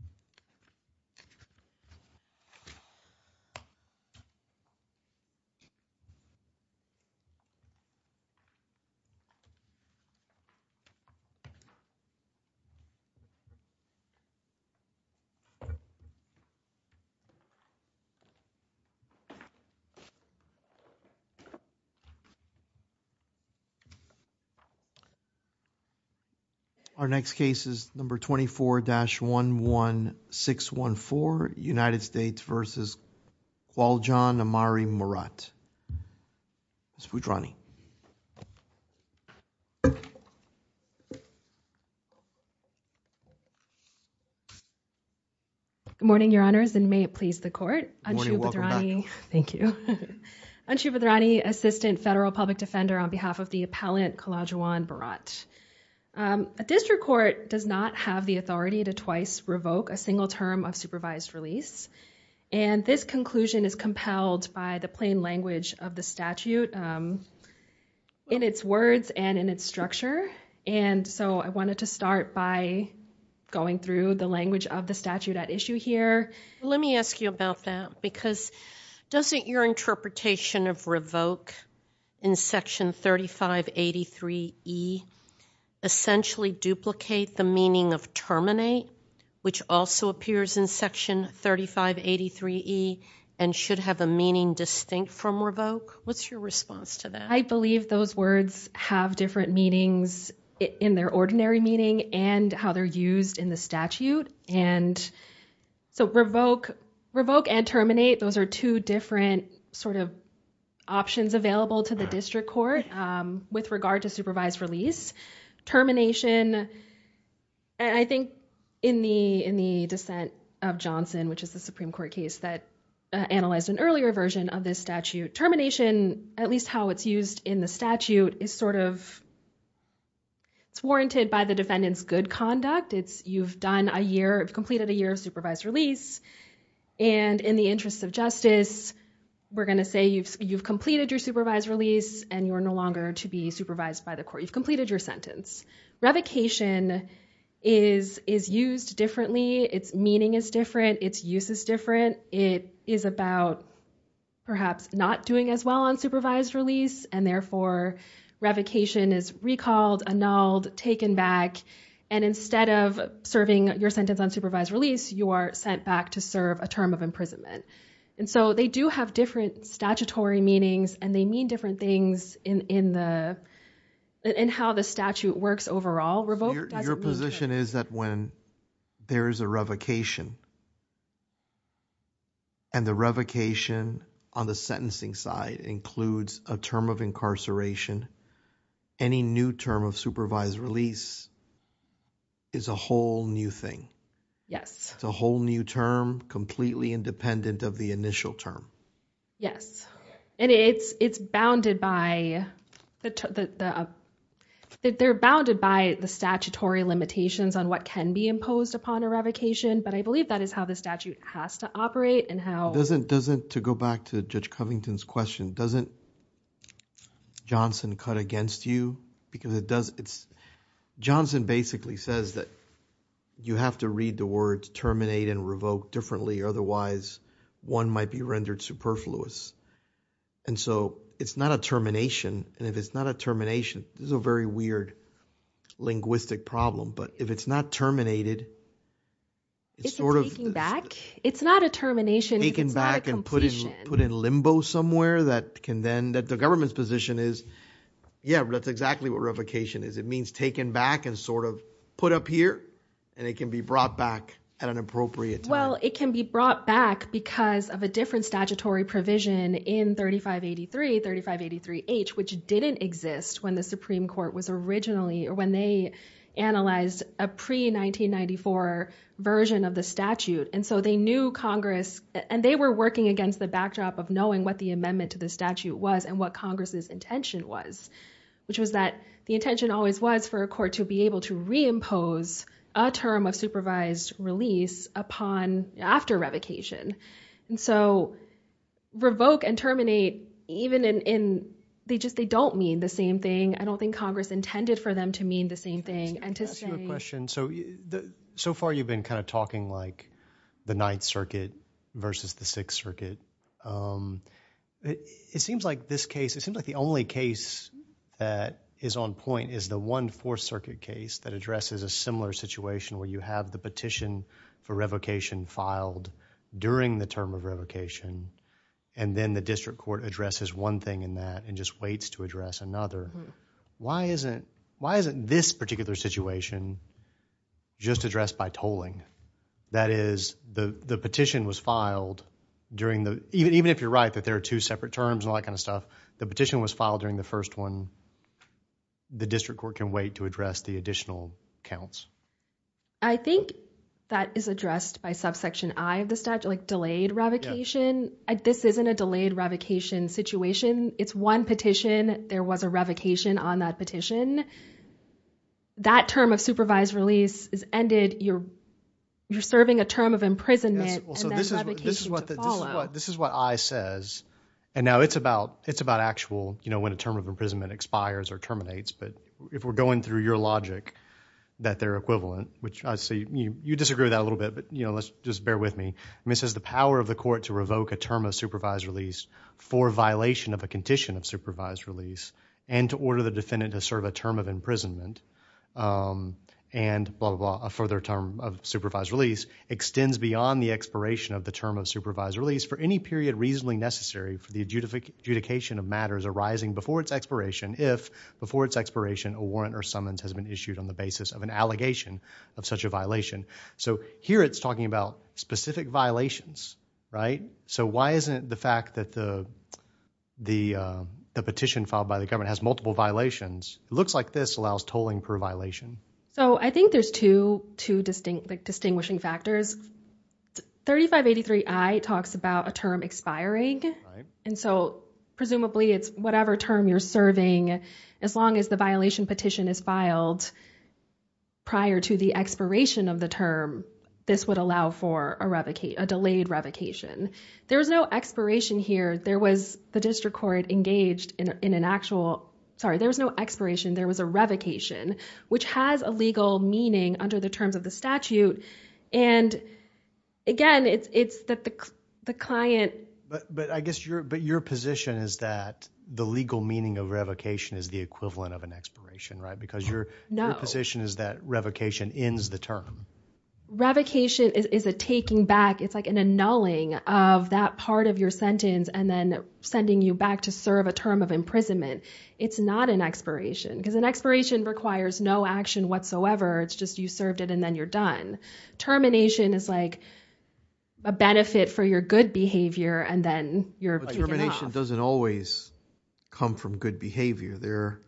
v. Kh'Lajuwon Murat Good morning, Your Honors, and may it please the Court. Anshu Bhadrani, thank you, Anshu Bhadrani, Assistant Federal Public Defender on behalf of the appellant Kh'Lajuwon Murat. A district court does not have the authority to twice revoke a single term of supervised release, and this conclusion is compelled by the plain language of the statute in its words and in its structure. And so I wanted to start by going through the language of the statute at issue here. Let me ask you about that, because doesn't your interpretation of revoke in Section 3583E essentially duplicate the meaning of terminate, which also appears in Section 3583E and should have a meaning distinct from revoke? What's your response to that? I believe those words have different meanings in their ordinary meaning and how they're used in the statute, and so revoke and terminate, those are two different sort of options available to the district court with regard to supervised release. Termination, I think in the dissent of Johnson, which is the Supreme Court case that analyzed an earlier version of this statute, termination, at least how it's used in the statute, is sort of warranted by the defendant's good conduct. You've completed a year of supervised release, and in the interest of justice, we're going to say you've completed your supervised release, and you are no longer to be supervised by the court. You've completed your sentence. Revocation is used differently. Its meaning is different. Its use is different. It is about perhaps not doing as well on supervised release, and therefore revocation is recalled, annulled, taken back, and instead of serving your sentence on supervised release, you are sent back to serve a term of imprisonment. And so they do have different statutory meanings, and they mean different things in how the statute works overall. Your position is that when there is a revocation, and the revocation on the sentencing side includes a term of incarceration, any new term of supervised release is a whole new thing. Yes. It's a whole new term, completely independent of the initial term. Yes. And it's bounded by the statutory limitations on what can be imposed upon a revocation, but I believe that is how the statute has to operate and how... To go back to Judge Covington's question, doesn't Johnson cut against you? Johnson basically says that you have to read the words terminate and revoke differently, otherwise one might be rendered superfluous. And so it's not a termination, and if it's not a termination, this is a very weird linguistic problem, but if it's not terminated, it's sort of... Is it taking back? It's not a termination if it's not a completion. Taking back and put in limbo somewhere that can then... The government's position is, yeah, that's exactly what revocation is. It means taken back and sort of put up here, and it can be brought back at an appropriate time. Well, it can be brought back because of a different statutory provision in 3583, 3583H, which didn't exist when the Supreme Court was originally, or when they analyzed a pre-1994 version of the statute. And so they knew Congress, and they were working against the backdrop of knowing what the amendment to the statute was and what Congress's intention was, which was that the intention always was for a court to be able to reimpose a term of supervised release upon, after revocation. And so revoke and terminate, even in, they just, they don't mean the same thing. I don't think Congress intended for them to mean the same thing, and to say... Can I ask you a question? So far, you've been kind of talking like the Ninth Circuit versus the Sixth Circuit. It seems like this case, it seems like the only case that is on point is the one Fourth Circuit case that addresses a similar situation where you have the petition for revocation filed during the term of revocation, and then the district court addresses one thing in that and just waits to address another. Why isn't, why isn't this particular situation just addressed by tolling? That is, the petition was filed during the, even if you're right that there are two separate terms and all that kind of stuff, the petition was filed during the first one. The district court can wait to address the additional counts. I think that is addressed by subsection I of the statute, like delayed revocation. This isn't a delayed revocation situation. It's one petition. There was a revocation on that petition. When that term of supervised release is ended, you're serving a term of imprisonment and then revocation to follow. This is what I says, and now it's about actual, you know, when a term of imprisonment expires or terminates, but if we're going through your logic that they're equivalent, which I see you disagree with that a little bit, but you know, let's just bear with me. I mean, it says the power of the court to revoke a term of supervised release for violation of a condition of supervised release and to order the defendant to serve a term of imprisonment and blah, blah, blah, a further term of supervised release extends beyond the expiration of the term of supervised release for any period reasonably necessary for the adjudication of matters arising before its expiration if, before its expiration, a warrant or summons has been issued on the basis of an allegation of such a violation. So here it's talking about specific violations, right? So why isn't it the fact that the petition filed by the government has multiple violations? Looks like this allows tolling per violation. So I think there's two, two distinct, like distinguishing factors, 3583I talks about a term expiring. And so presumably it's whatever term you're serving, as long as the violation petition is filed prior to the expiration of the term, this would allow for a revocation, a delayed revocation. There was no expiration here. There was the district court engaged in an actual, sorry, there was no expiration. There was a revocation, which has a legal meaning under the terms of the statute. And again, it's, it's that the, the client, but, but I guess your, but your position is that the legal meaning of revocation is the equivalent of an expiration, right? Because your position is that revocation ends the term. Revocation is a taking back. It's like an annulling of that part of your sentence and then sending you back to serve a term of imprisonment. It's not an expiration because an expiration requires no action whatsoever. It's just, you served it and then you're done. Termination is like a benefit for your good behavior and then you're taken off. Termination doesn't always come from good behavior. There,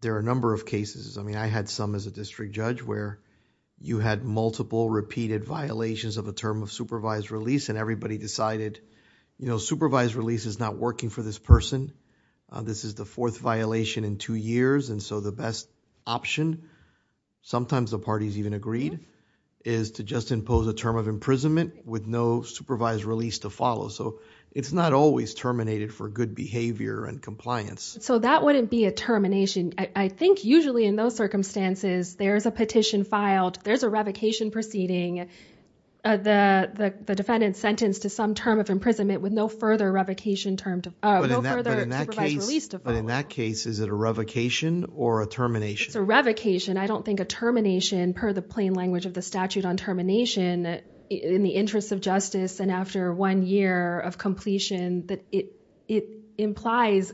there are a number of cases, I mean, I had some as a district judge where you had multiple repeated violations of a term of supervised release and everybody decided, you know, supervised release is not working for this person. This is the fourth violation in two years and so the best option, sometimes the parties even agreed, is to just impose a term of imprisonment with no supervised release to follow. So it's not always terminated for good behavior and compliance. So that wouldn't be a termination. I think usually in those circumstances, there's a petition filed, there's a revocation proceeding, the defendant sentenced to some term of imprisonment with no further revocation term, no further supervised release to follow. But in that case, is it a revocation or a termination? It's a revocation. I don't think a termination, per the plain language of the statute on termination, in the interest of justice and after one year of completion, that it implies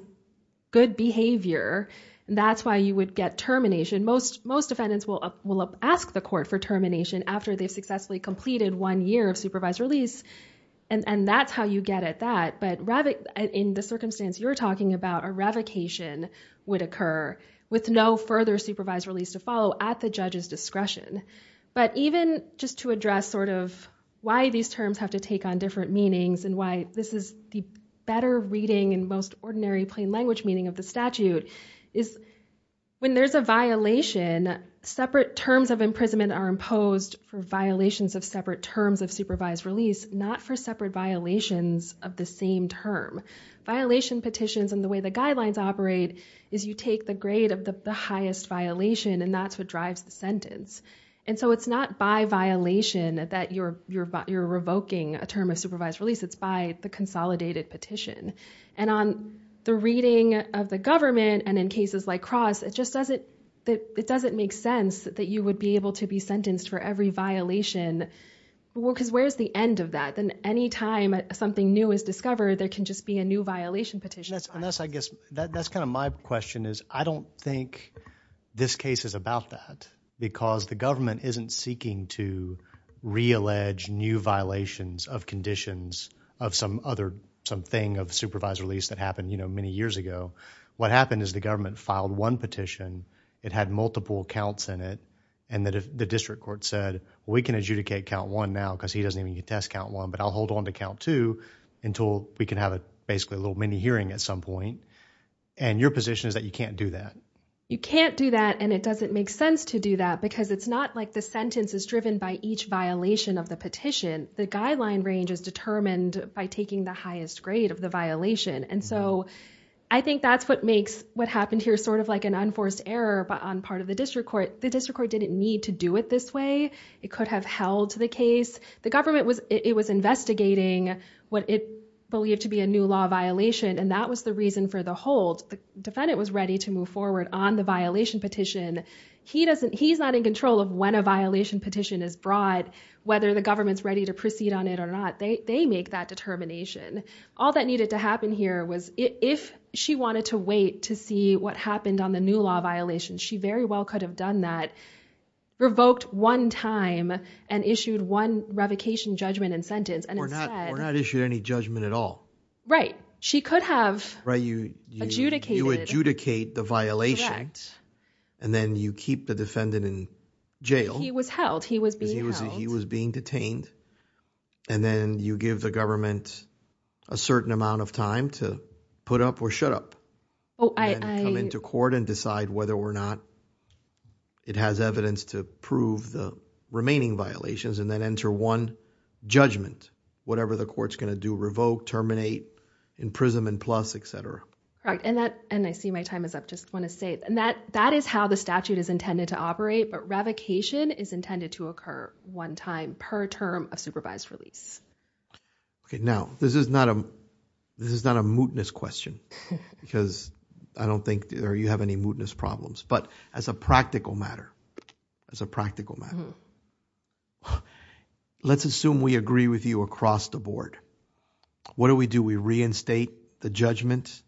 good behavior. That's why you would get termination. Most defendants will ask the court for termination after they've successfully completed one year of supervised release and that's how you get at that. But in the circumstance you're talking about, a revocation would occur with no further supervised release to follow at the judge's discretion. But even just to address sort of why these terms have to take on different meanings and why this is the better reading and most ordinary plain language meaning of the statute, is when there's a violation, separate terms of imprisonment are imposed for violations of separate terms of supervised release, not for separate violations of the same term. Violation petitions and the way the guidelines operate is you take the grade of the highest violation and that's what drives the sentence. And so it's not by violation that you're revoking a term of supervised release. It's by the consolidated petition. And on the reading of the government and in cases like Cross, it just doesn't make sense that you would be able to be sentenced for every violation because where's the end of that? Then anytime something new is discovered, there can just be a new violation petition filed. That's kind of my question is I don't think this case is about that because the government isn't seeking to re-allege new violations of conditions of some other, something of supervised release that happened many years ago. What happened is the government filed one petition. It had multiple counts in it and the district court said, we can adjudicate count one now because he doesn't even get to test count one, but I'll hold on to count two until we can have a basically a little mini hearing at some point. And your position is that you can't do that. You can't do that. And it doesn't make sense to do that because it's not like the sentence is driven by each violation of the petition. The guideline range is determined by taking the highest grade of the violation. And so I think that's what makes what happened here sort of like an unforced error on part of the district court. The district court didn't need to do it this way. It could have held the case. The government was, it was investigating what it believed to be a new law violation. And that was the reason for the hold. The defendant was ready to move forward on the violation petition. He doesn't, he's not in control of when a violation petition is brought, whether the government's ready to proceed on it or not. They make that determination. All that needed to happen here was if she wanted to wait to see what happened on the new law violation, she very well could have done that. Revoked one time and issued one revocation judgment and sentence. We're not, we're not issued any judgment at all. Right. She could have. Right. You adjudicated. You adjudicate the violation. Correct. And then you keep the defendant in jail. He was held. He was being held. He was being detained. And then you give the government a certain amount of time to put up or shut up. Oh, I. Come into court and decide whether or not it has evidence to prove the remaining violations and then enter one judgment. Whatever the court's going to do, revoke, terminate, imprisonment plus, et cetera. Correct. And that, and I see my time is up. Just want to say, and that, that is how the statute is intended to operate, but revocation is intended to occur one time per term of supervised release. Okay. Now, this is not a, this is not a mootness question because I don't think you have any mootness problems, but as a practical matter, as a practical matter, let's assume we agree with you across the board. What do we do? We reinstate the judgment,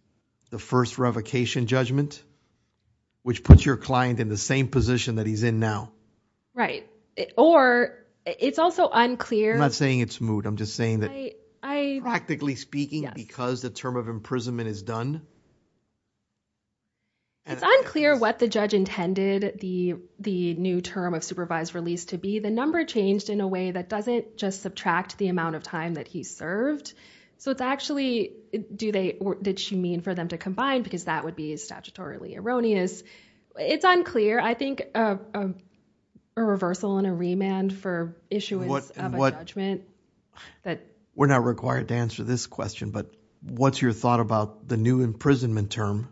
the first revocation judgment, which puts your client in the same position that he's in now. Right. Or it's also unclear. I'm not saying it's moot. I'm just saying that practically speaking, because the term of imprisonment is done. It's unclear what the judge intended the, the new term of supervised release to be. The number changed in a way that doesn't just subtract the amount of time that he served. So it's actually, do they, did she mean for them to combine? Because that would be statutorily erroneous. It's unclear. It's unclear. I think a reversal and a remand for issuance of a judgment that. We're not required to answer this question, but what's your thought about the new imprisonment term?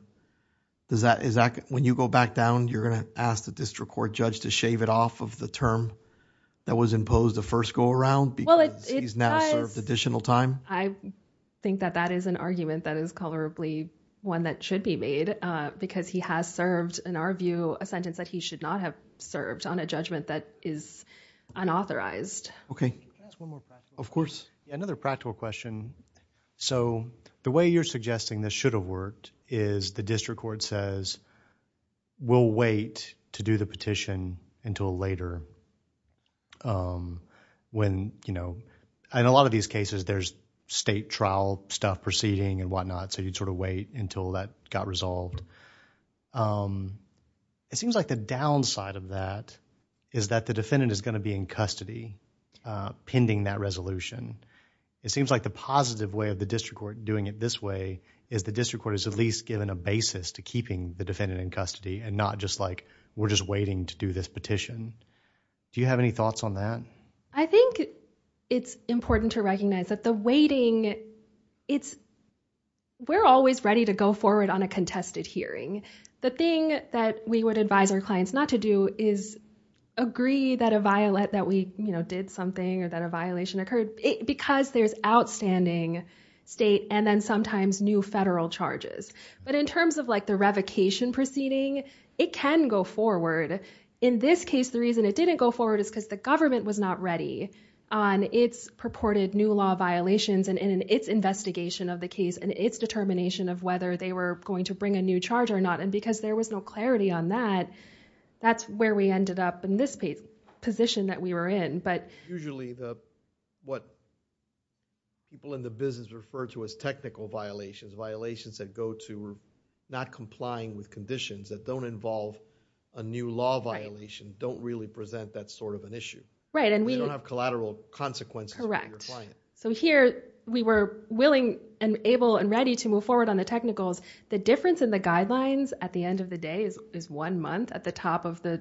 Does that, is that when you go back down, you're going to ask the district court judge to shave it off of the term that was imposed the first go around because he's now served additional time? I think that that is an argument that is colorably one that should be made because he has served, in our view, a sentence that he should not have served on a judgment that is unauthorized. Okay. Can I ask one more practical question? Of course. Another practical question. So the way you're suggesting this should have worked is the district court says, we'll wait to do the petition until later when, you know, and a lot of these cases there's state trial stuff proceeding and whatnot. So you'd sort of wait until that got resolved. It seems like the downside of that is that the defendant is going to be in custody pending that resolution. It seems like the positive way of the district court doing it this way is the district court is at least given a basis to keeping the defendant in custody and not just like, we're just waiting to do this petition. Do you have any thoughts on that? I think it's important to recognize that the waiting, it's, we're always ready to go forward on a contested hearing. The thing that we would advise our clients not to do is agree that a violent, that we, you know, did something or that a violation occurred because there's outstanding state and then sometimes new federal charges. But in terms of like the revocation proceeding, it can go forward. In this case, the reason it didn't go forward is because the government was not ready on its purported new law violations and in its investigation of the case and its determination of whether they were going to bring a new charge or not. And because there was no clarity on that, that's where we ended up in this position that we were in. But usually the, what people in the business refer to as technical violations, violations that go to not complying with conditions that don't involve a new law violation, don't really present that sort of an issue. Right. And we don't have collateral consequences. Correct. For your client. So here we were willing and able and ready to move forward on the technicals. The difference in the guidelines at the end of the day is one month at the top of the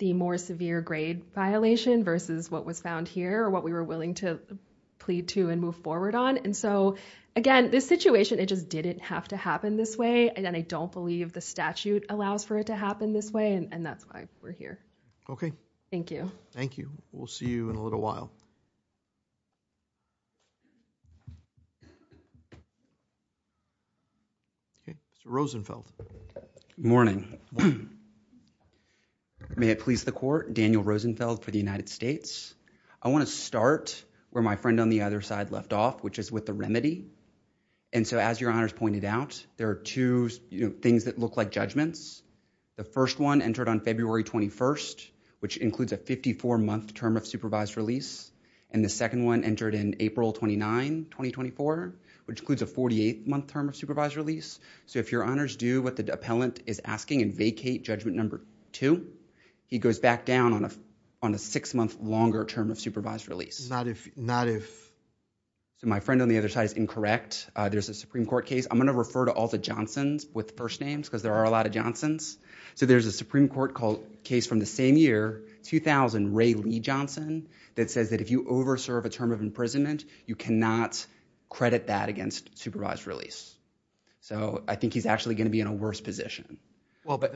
more severe grade violation versus what was found here or what we were willing to plead to and move forward on. And so, again, this situation, it just didn't have to happen this way. And I don't believe the statute allows for it to happen this way. And that's why we're here. Thank you. Thank you. We'll see you in a little while. Okay. Rosenfeld. Good morning. May it please the court, Daniel Rosenfeld for the United States. I want to start where my friend on the other side left off, which is with the remedy. And so as your honors pointed out, there are two things that look like judgments. The first one entered on February 21st, which includes a 54-month term of supervised release. And the second one entered in April 29, 2024, which includes a 48-month term of supervised release. So if your honors do what the appellant is asking and vacate judgment number two, he goes back down on a six-month longer term of supervised release. Not if... So my friend on the other side is incorrect. There's a Supreme Court case. I'm going to refer to all the Johnsons with first names, because there are a lot of Johnsons. So there's a Supreme Court case from the same year, 2000, Ray Lee Johnson, that says that if you overserve a term of imprisonment, you cannot credit that against supervised release. So I think he's actually going to be in a worse position. Well, but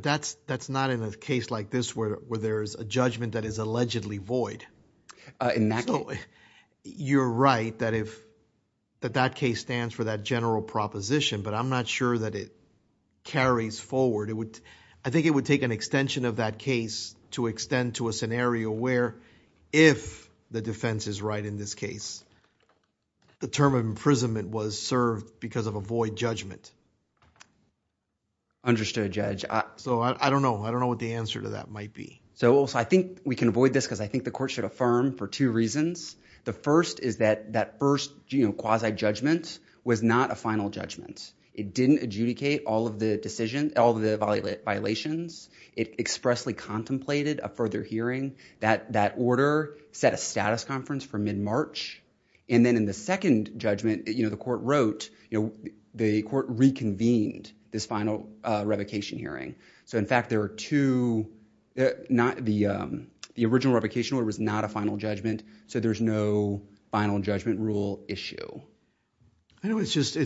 that's not in a case like this where there's a judgment that is allegedly void. You're right that if that case stands for that general proposition, but I'm not sure that it carries forward. I think it would take an extension of that case to extend to a scenario where if the defense is right in this case, the term of imprisonment was served because of a void judgment. Understood, Judge. So I don't know. I don't know what the answer to that might be. So I think we can avoid this, because I think the court should affirm for two reasons. The first is that that first quasi-judgment was not a final judgment. It didn't adjudicate all of the decisions, all of the violations. It expressly contemplated a further hearing. That order set a status conference for mid-March. And then in the second judgment, the court wrote, the court reconvened this final revocation hearing. So in fact, the original revocation order was not a final judgment, so there's no final judgment rule issue. I know it's just,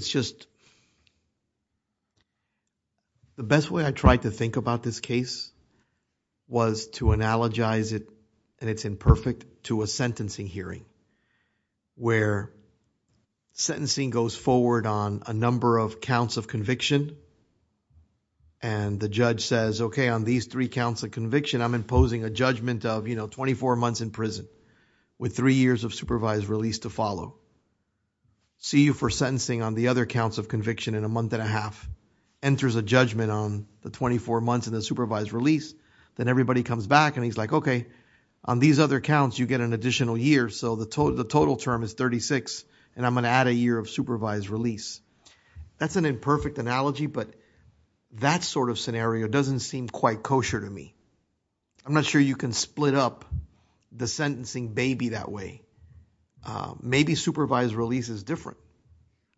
the best way I tried to think about this case was to analogize it and it's imperfect to a sentencing hearing where sentencing goes forward on a number of counts of conviction and the judge says, okay, on these three counts of conviction, I'm imposing a judgment of, you know, 24 months in prison with three years of supervised release to follow. See you for sentencing on the other counts of conviction in a month and a half. Enters a judgment on the 24 months in the supervised release, then everybody comes back and he's like, okay, on these other counts, you get an additional year, so the total term is 36 and I'm going to add a year of supervised release. That's an imperfect analogy, but that sort of scenario doesn't seem quite kosher to me. I'm not sure you can split up the sentencing baby that way. Maybe supervised release is different.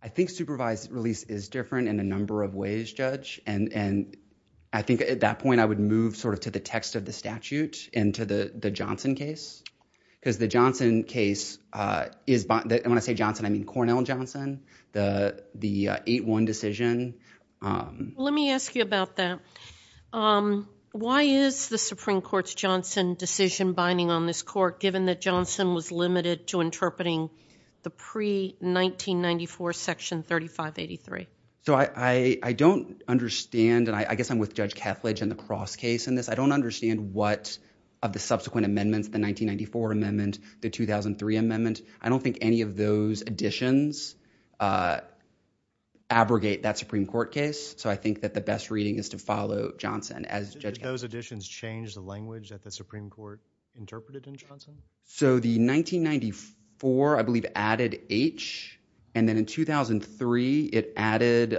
I think supervised release is different in a number of ways, Judge, and I think at that point I would move sort of to the text of the statute and to the Johnson case, because the Johnson case is, when I say Johnson, I mean Cornell Johnson, the 8-1 decision. Let me ask you about that. Why is the Supreme Court's Johnson decision binding on this court given that Johnson was limited to interpreting the pre-1994 section 3583? I don't understand, and I guess I'm with Judge Kethledge in the cross case in this, I don't understand what of the subsequent amendments, the 1994 amendment, the 2003 amendment, I don't think any of those additions abrogate that Supreme Court case, so I think that the best reading is to follow Johnson as Judge Kethledge. Did those additions change the language that the Supreme Court interpreted in Johnson? So the 1994, I believe, added H, and then in 2003 it added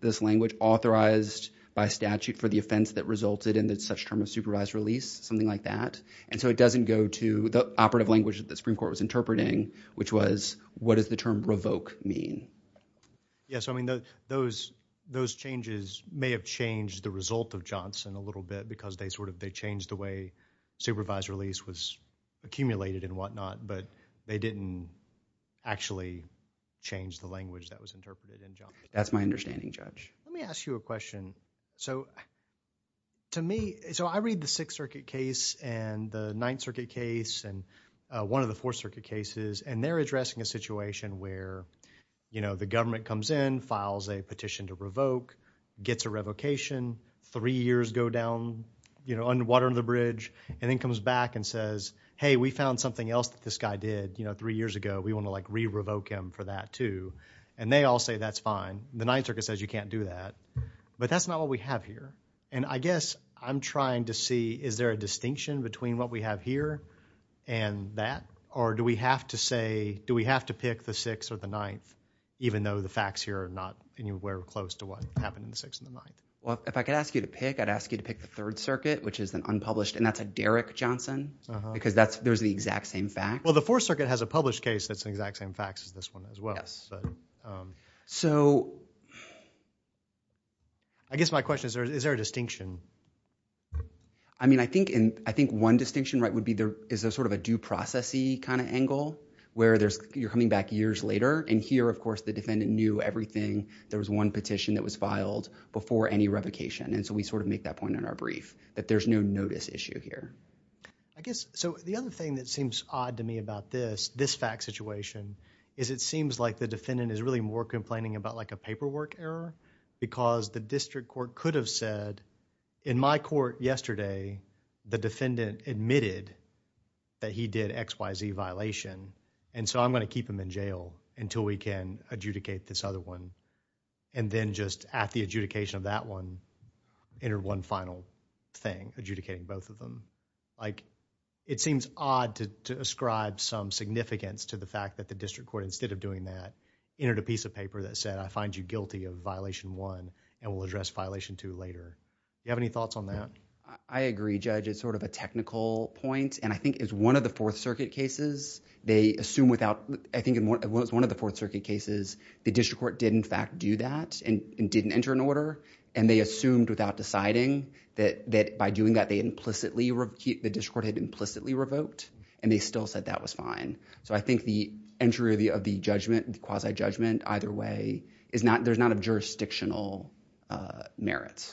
this language, authorized by statute for the offense that resulted in such term of supervised release, something like that, and so it doesn't go to the operative language that the Supreme Court was interpreting, which was, what does the term revoke mean? Yes, I mean, those changes may have changed the result of Johnson a little bit, because they sort of, they changed the way supervised release was accumulated and whatnot, but they didn't actually change the language that was interpreted in Johnson. That's my understanding, Judge. Let me ask you a question. So to me, so I read the Sixth Circuit case and the Ninth Circuit case and one of the Fourth Circuit cases, and they're addressing a situation where, you know, the government comes in, files a petition to revoke, gets a revocation, three years go down, you know, under water under the bridge, and then comes back and says, hey, we found something else that this guy did, you know, three years ago, we want to like re-revoke him for that, too, and they all say that's fine. The Ninth Circuit says you can't do that, but that's not what we have here, and I guess I'm trying to see, is there a distinction between what we have here and that, or do we have to say, do we have to pick the Sixth or the Ninth, even though the facts here are not anywhere close to what happened in the Sixth and the Ninth? Well, if I could ask you to pick, I'd ask you to pick the Third Circuit, which is an unpublished, and that's a Derrick Johnson, because that's, there's the exact same fact. Well, the Fourth Circuit has a published case that's the exact same facts as this one as well. So I guess my question is, is there a distinction? I mean, I think, and I think one distinction, right, would be there, is there sort of a due process-y kind of angle, where there's, you're coming back years later, and here, of course, the defendant knew everything, there was one petition that was filed before any revocation, and so we sort of make that point in our brief, that there's no notice issue here. I guess, so the other thing that seems odd to me about this, this fact situation, is it seems like the defendant is really more complaining about like a paperwork error, because the district court could have said, in my court yesterday, the defendant admitted that he did X, Y, Z violation, and so I'm going to keep him in jail until we can adjudicate this other one, and then just at the adjudication of that one, enter one final thing, adjudicating both of them. Like, it seems odd to ascribe some significance to the fact that the district court, instead of doing that, entered a piece of paper that said, I find you guilty of violation one, and we'll address violation two later. Do you have any thoughts on that? I agree, Judge. It's sort of a technical point, and I think it's one of the Fourth Circuit cases, they assume without, I think it was one of the Fourth Circuit cases, the district court did in fact do that, and didn't enter an order, and they assumed without deciding, that by doing that, they implicitly, the district court had implicitly revoked, and they still said that was fine. So I think the entry of the judgment, quasi-judgment, either way, there's not a jurisdictional merit.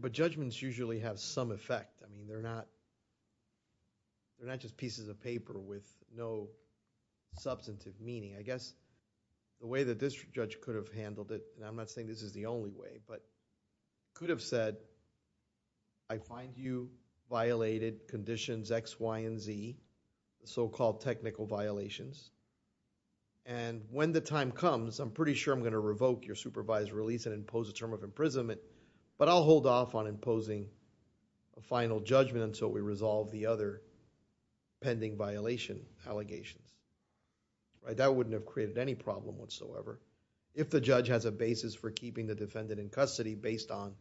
But judgments usually have some effect, I mean, they're not just pieces of paper with no substantive meaning. I guess the way that this judge could have handled it, and I'm not saying this is the only way, but could have said, I find you violated conditions X, Y, and Z, the so-called technical violations, and when the time comes, I'm pretty sure I'm going to revoke your supervised release and impose a term of imprisonment, but I'll hold off on imposing a final judgment until we resolve the other pending violation allegations. That wouldn't have created any problem whatsoever, if the judge has a basis for keeping the defendant in custody based on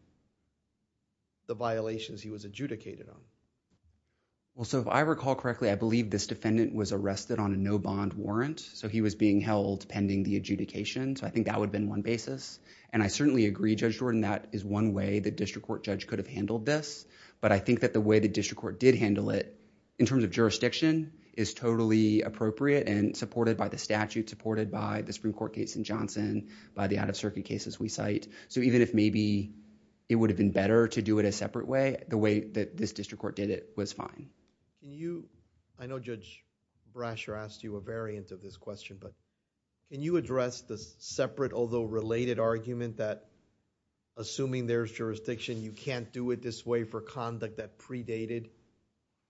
the violations he was adjudicated on. Well, so if I recall correctly, I believe this defendant was arrested on a no-bond warrant, so he was being held pending the adjudication, so I think that would have been one basis. And I certainly agree, Judge Jordan, that is one way the district court judge could have handled this, but I think that the way the district court did handle it, in terms of jurisdiction, is totally appropriate and supported by the statute, supported by the Supreme Court case in Johnson, by the out-of-circuit cases we cite. So even if maybe it would have been better to do it a separate way, the way that this district court did it was fine. Can you, I know Judge Brasher asked you a variant of this question, but can you address the separate, although related, argument that assuming there's jurisdiction, you can't do it this way for conduct that predated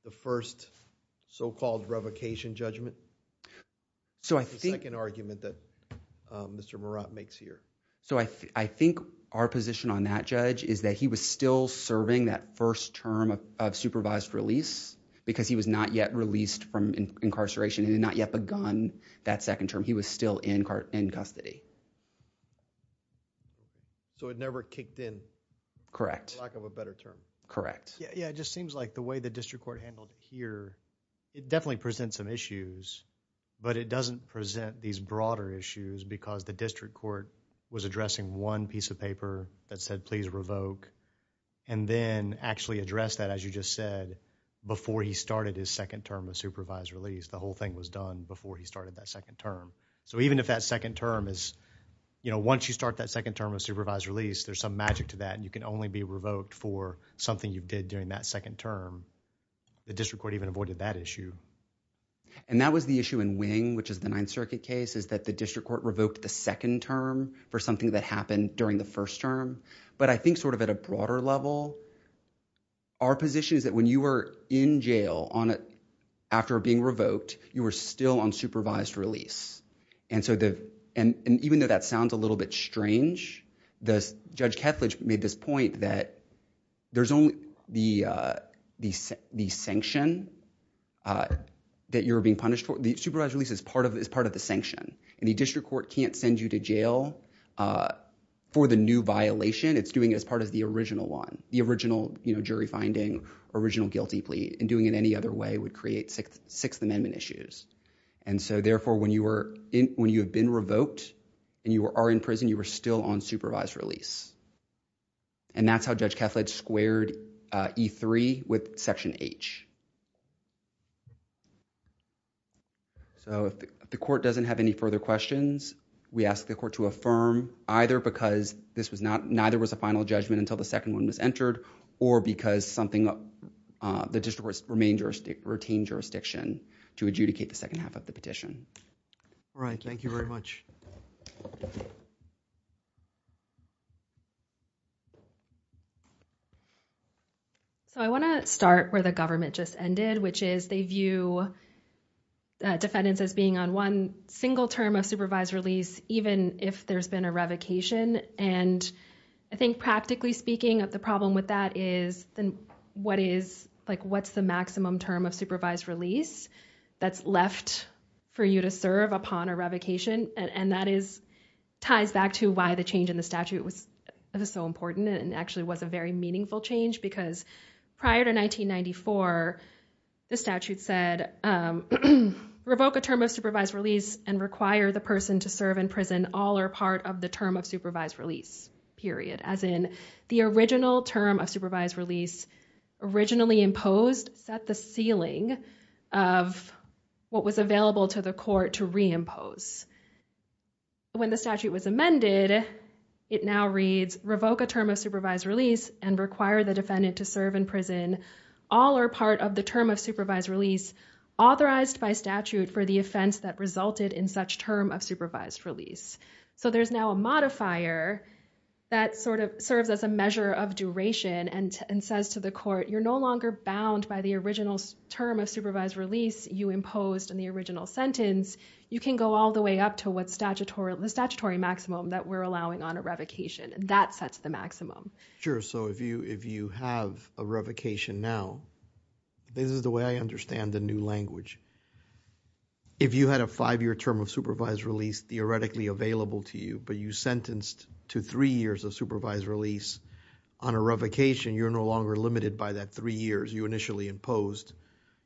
the first so-called revocation judgment? So I think... The second argument that Mr. Murat makes here. So I think our position on that, Judge, is that he was still serving that first term of supervised release, because he was not yet released from incarceration and had not yet begun that second term. He was still in custody. So it never kicked in. Correct. For lack of a better term. Correct. Yeah, it just seems like the way the district court handled it here, it definitely presents some issues, but it doesn't present these broader issues, because the district court was addressing one piece of paper that said, please revoke, and then actually addressed that, as you just said, before he started his second term of supervised release. The whole thing was done before he started that second term. So even if that second term is, you know, once you start that second term of supervised release, there's some magic to that, and you can only be revoked for something you did during that second term. The district court even avoided that issue. And that was the issue in Wing, which is the Ninth Circuit case, is that the district court revoked the second term for something that happened during the first term. But I think sort of at a broader level, our position is that when you were in jail, after being revoked, you were still on supervised release. And even though that sounds a little bit strange, Judge Kethledge made this point that there's only the sanction that you're being punished for. The supervised release is part of the sanction, and the district court can't send you to jail for the new violation. It's doing it as part of the original one, the original, you know, jury finding, original guilty plea. And doing it any other way would create Sixth Amendment issues. And so, therefore, when you have been revoked and you are in prison, you are still on supervised release. And that's how Judge Kethledge squared E3 with Section H. So, if the court doesn't have any further questions, we ask the court to affirm, either because this was not, neither was a final judgment until the second one was entered, or because something, the district court retained jurisdiction to adjudicate the second half of the petition. All right. Thank you very much. So, I want to start where the government just ended, which is they view defendants as being on one single term of supervised release, even if there's been a revocation. And I think, practically speaking, the problem with that is, what is, like, what's the maximum term of supervised release that's left for you to serve upon a revocation? And that is, ties back to why the change in the statute was so important, and actually was a very meaningful change, because prior to 1994, the statute said, revoke a term of supervised release and require the person to serve in prison all or part of the term of supervised release, period. As in, the original term of supervised release, originally imposed, set the ceiling of what was available to the court to reimpose. When the statute was amended, it now reads, revoke a term of supervised release and require the defendant to serve in prison all or part of the term of supervised release authorized by statute for the offense that resulted in such term of supervised release. So there's now a modifier that sort of serves as a measure of duration and says to the court, you're no longer bound by the original term of supervised release you imposed in the original sentence. You can go all the way up to what statutory, the statutory maximum that we're allowing on a revocation. And that sets the maximum. So if you, if you have a revocation now, this is the way I understand the new language. If you had a five-year term of supervised release theoretically available to you, but you sentenced to three years of supervised release on a revocation, you're no longer limited by that three years you initially imposed.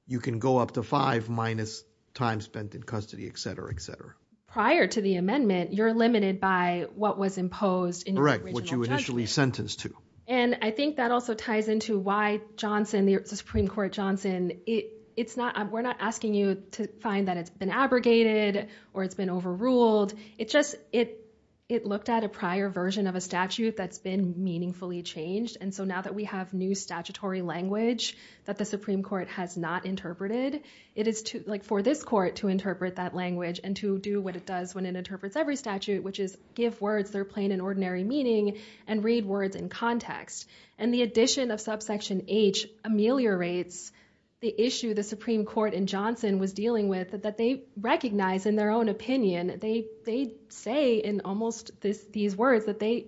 You can go up to five minus time spent in custody, et cetera, et cetera. Prior to the amendment, you're limited by what was imposed in the original judgment. What you initially sentenced to. And I think that also ties into why Johnson, the Supreme Court Johnson, it, it's not, we're not asking you to find that it's been abrogated or it's been overruled. It just, it, it looked at a prior version of a statute that's been meaningfully changed. And so now that we have new statutory language that the Supreme Court has not interpreted, it is like for this court to interpret that language and to do what it does when it interprets every statute, which is give words, they're plain and ordinary meaning and read words in context. And the addition of subsection H ameliorates the issue the Supreme Court in Johnson was dealing with that, that they recognize in their own opinion, they, they say in almost this, these words that they,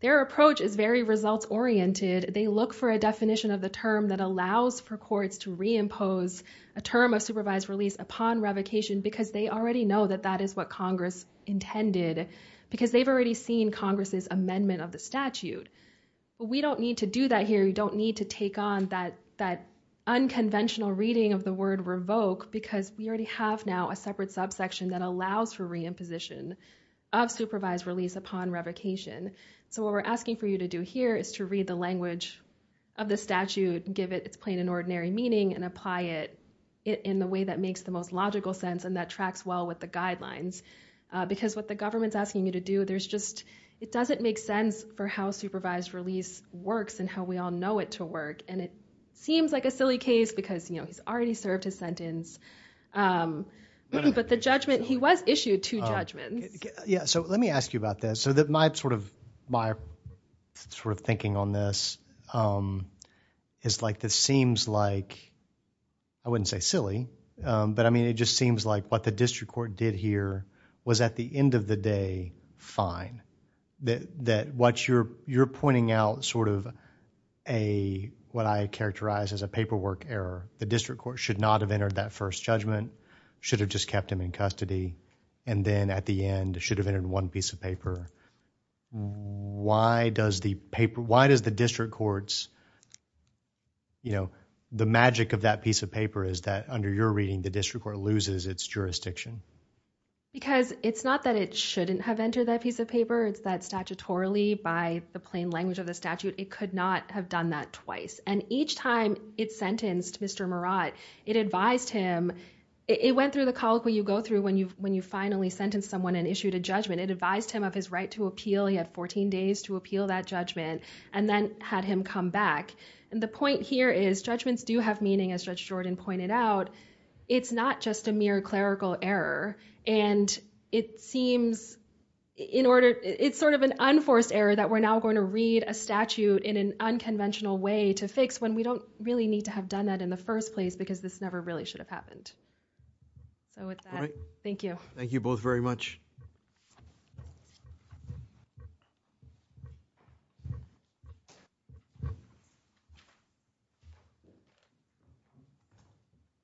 their approach is very results oriented. They look for a definition of the term that allows for courts to reimpose a term of supervised release upon revocation, because they already know that that is what Congress intended because they've already seen Congress's amendment of the statute. But we don't need to do that here. You don't need to take on that, that unconventional reading of the word revoke because we already have now a separate subsection that allows for reimposition of supervised release upon revocation. So what we're asking for you to do here is to read the language of the statute and give it its plain and ordinary meaning and apply it in the way that makes the most logical sense and that tracks well with the guidelines. Because what the government's asking you to do, there's just, it doesn't make sense for how supervised release works and how we all know it to work. And it seems like a silly case because, you know, he's already served his sentence, um, but the judgment, he was issued two judgments. Yeah. So let me ask you about this. So that my sort of, my sort of thinking on this, um, is like, this seems like, I wouldn't say silly. Um, but I mean, it just seems like what the district court did here was at the end of the day, fine, that, that what you're, you're pointing out sort of a, what I characterize as a paperwork error, the district court should not have entered that first judgment, should have just kept him in custody. And then at the end should have entered one piece of paper. Why does the paper, why does the district courts, you know, the magic of that piece of paper is that under your reading, the district court loses its jurisdiction? Because it's not that it shouldn't have entered that piece of paper. It's that statutorily by the plain language of the statute, it could not have done that twice. And each time it sentenced Mr. Murad, it advised him, it went through the colloquy you go through when you, when you finally sentenced someone and issued a judgment, it advised him of his right to appeal. He had 14 days to appeal that judgment and then had him come back. And the point here is judgments do have meaning as Judge Jordan pointed out. It's not just a mere clerical error. And it seems in order, it's sort of an unforced error that we're now going to read a statute in an unconventional way to fix when we don't really need to have done that in the first place because this never really should have happened. So with that, thank you. Thank you both very much.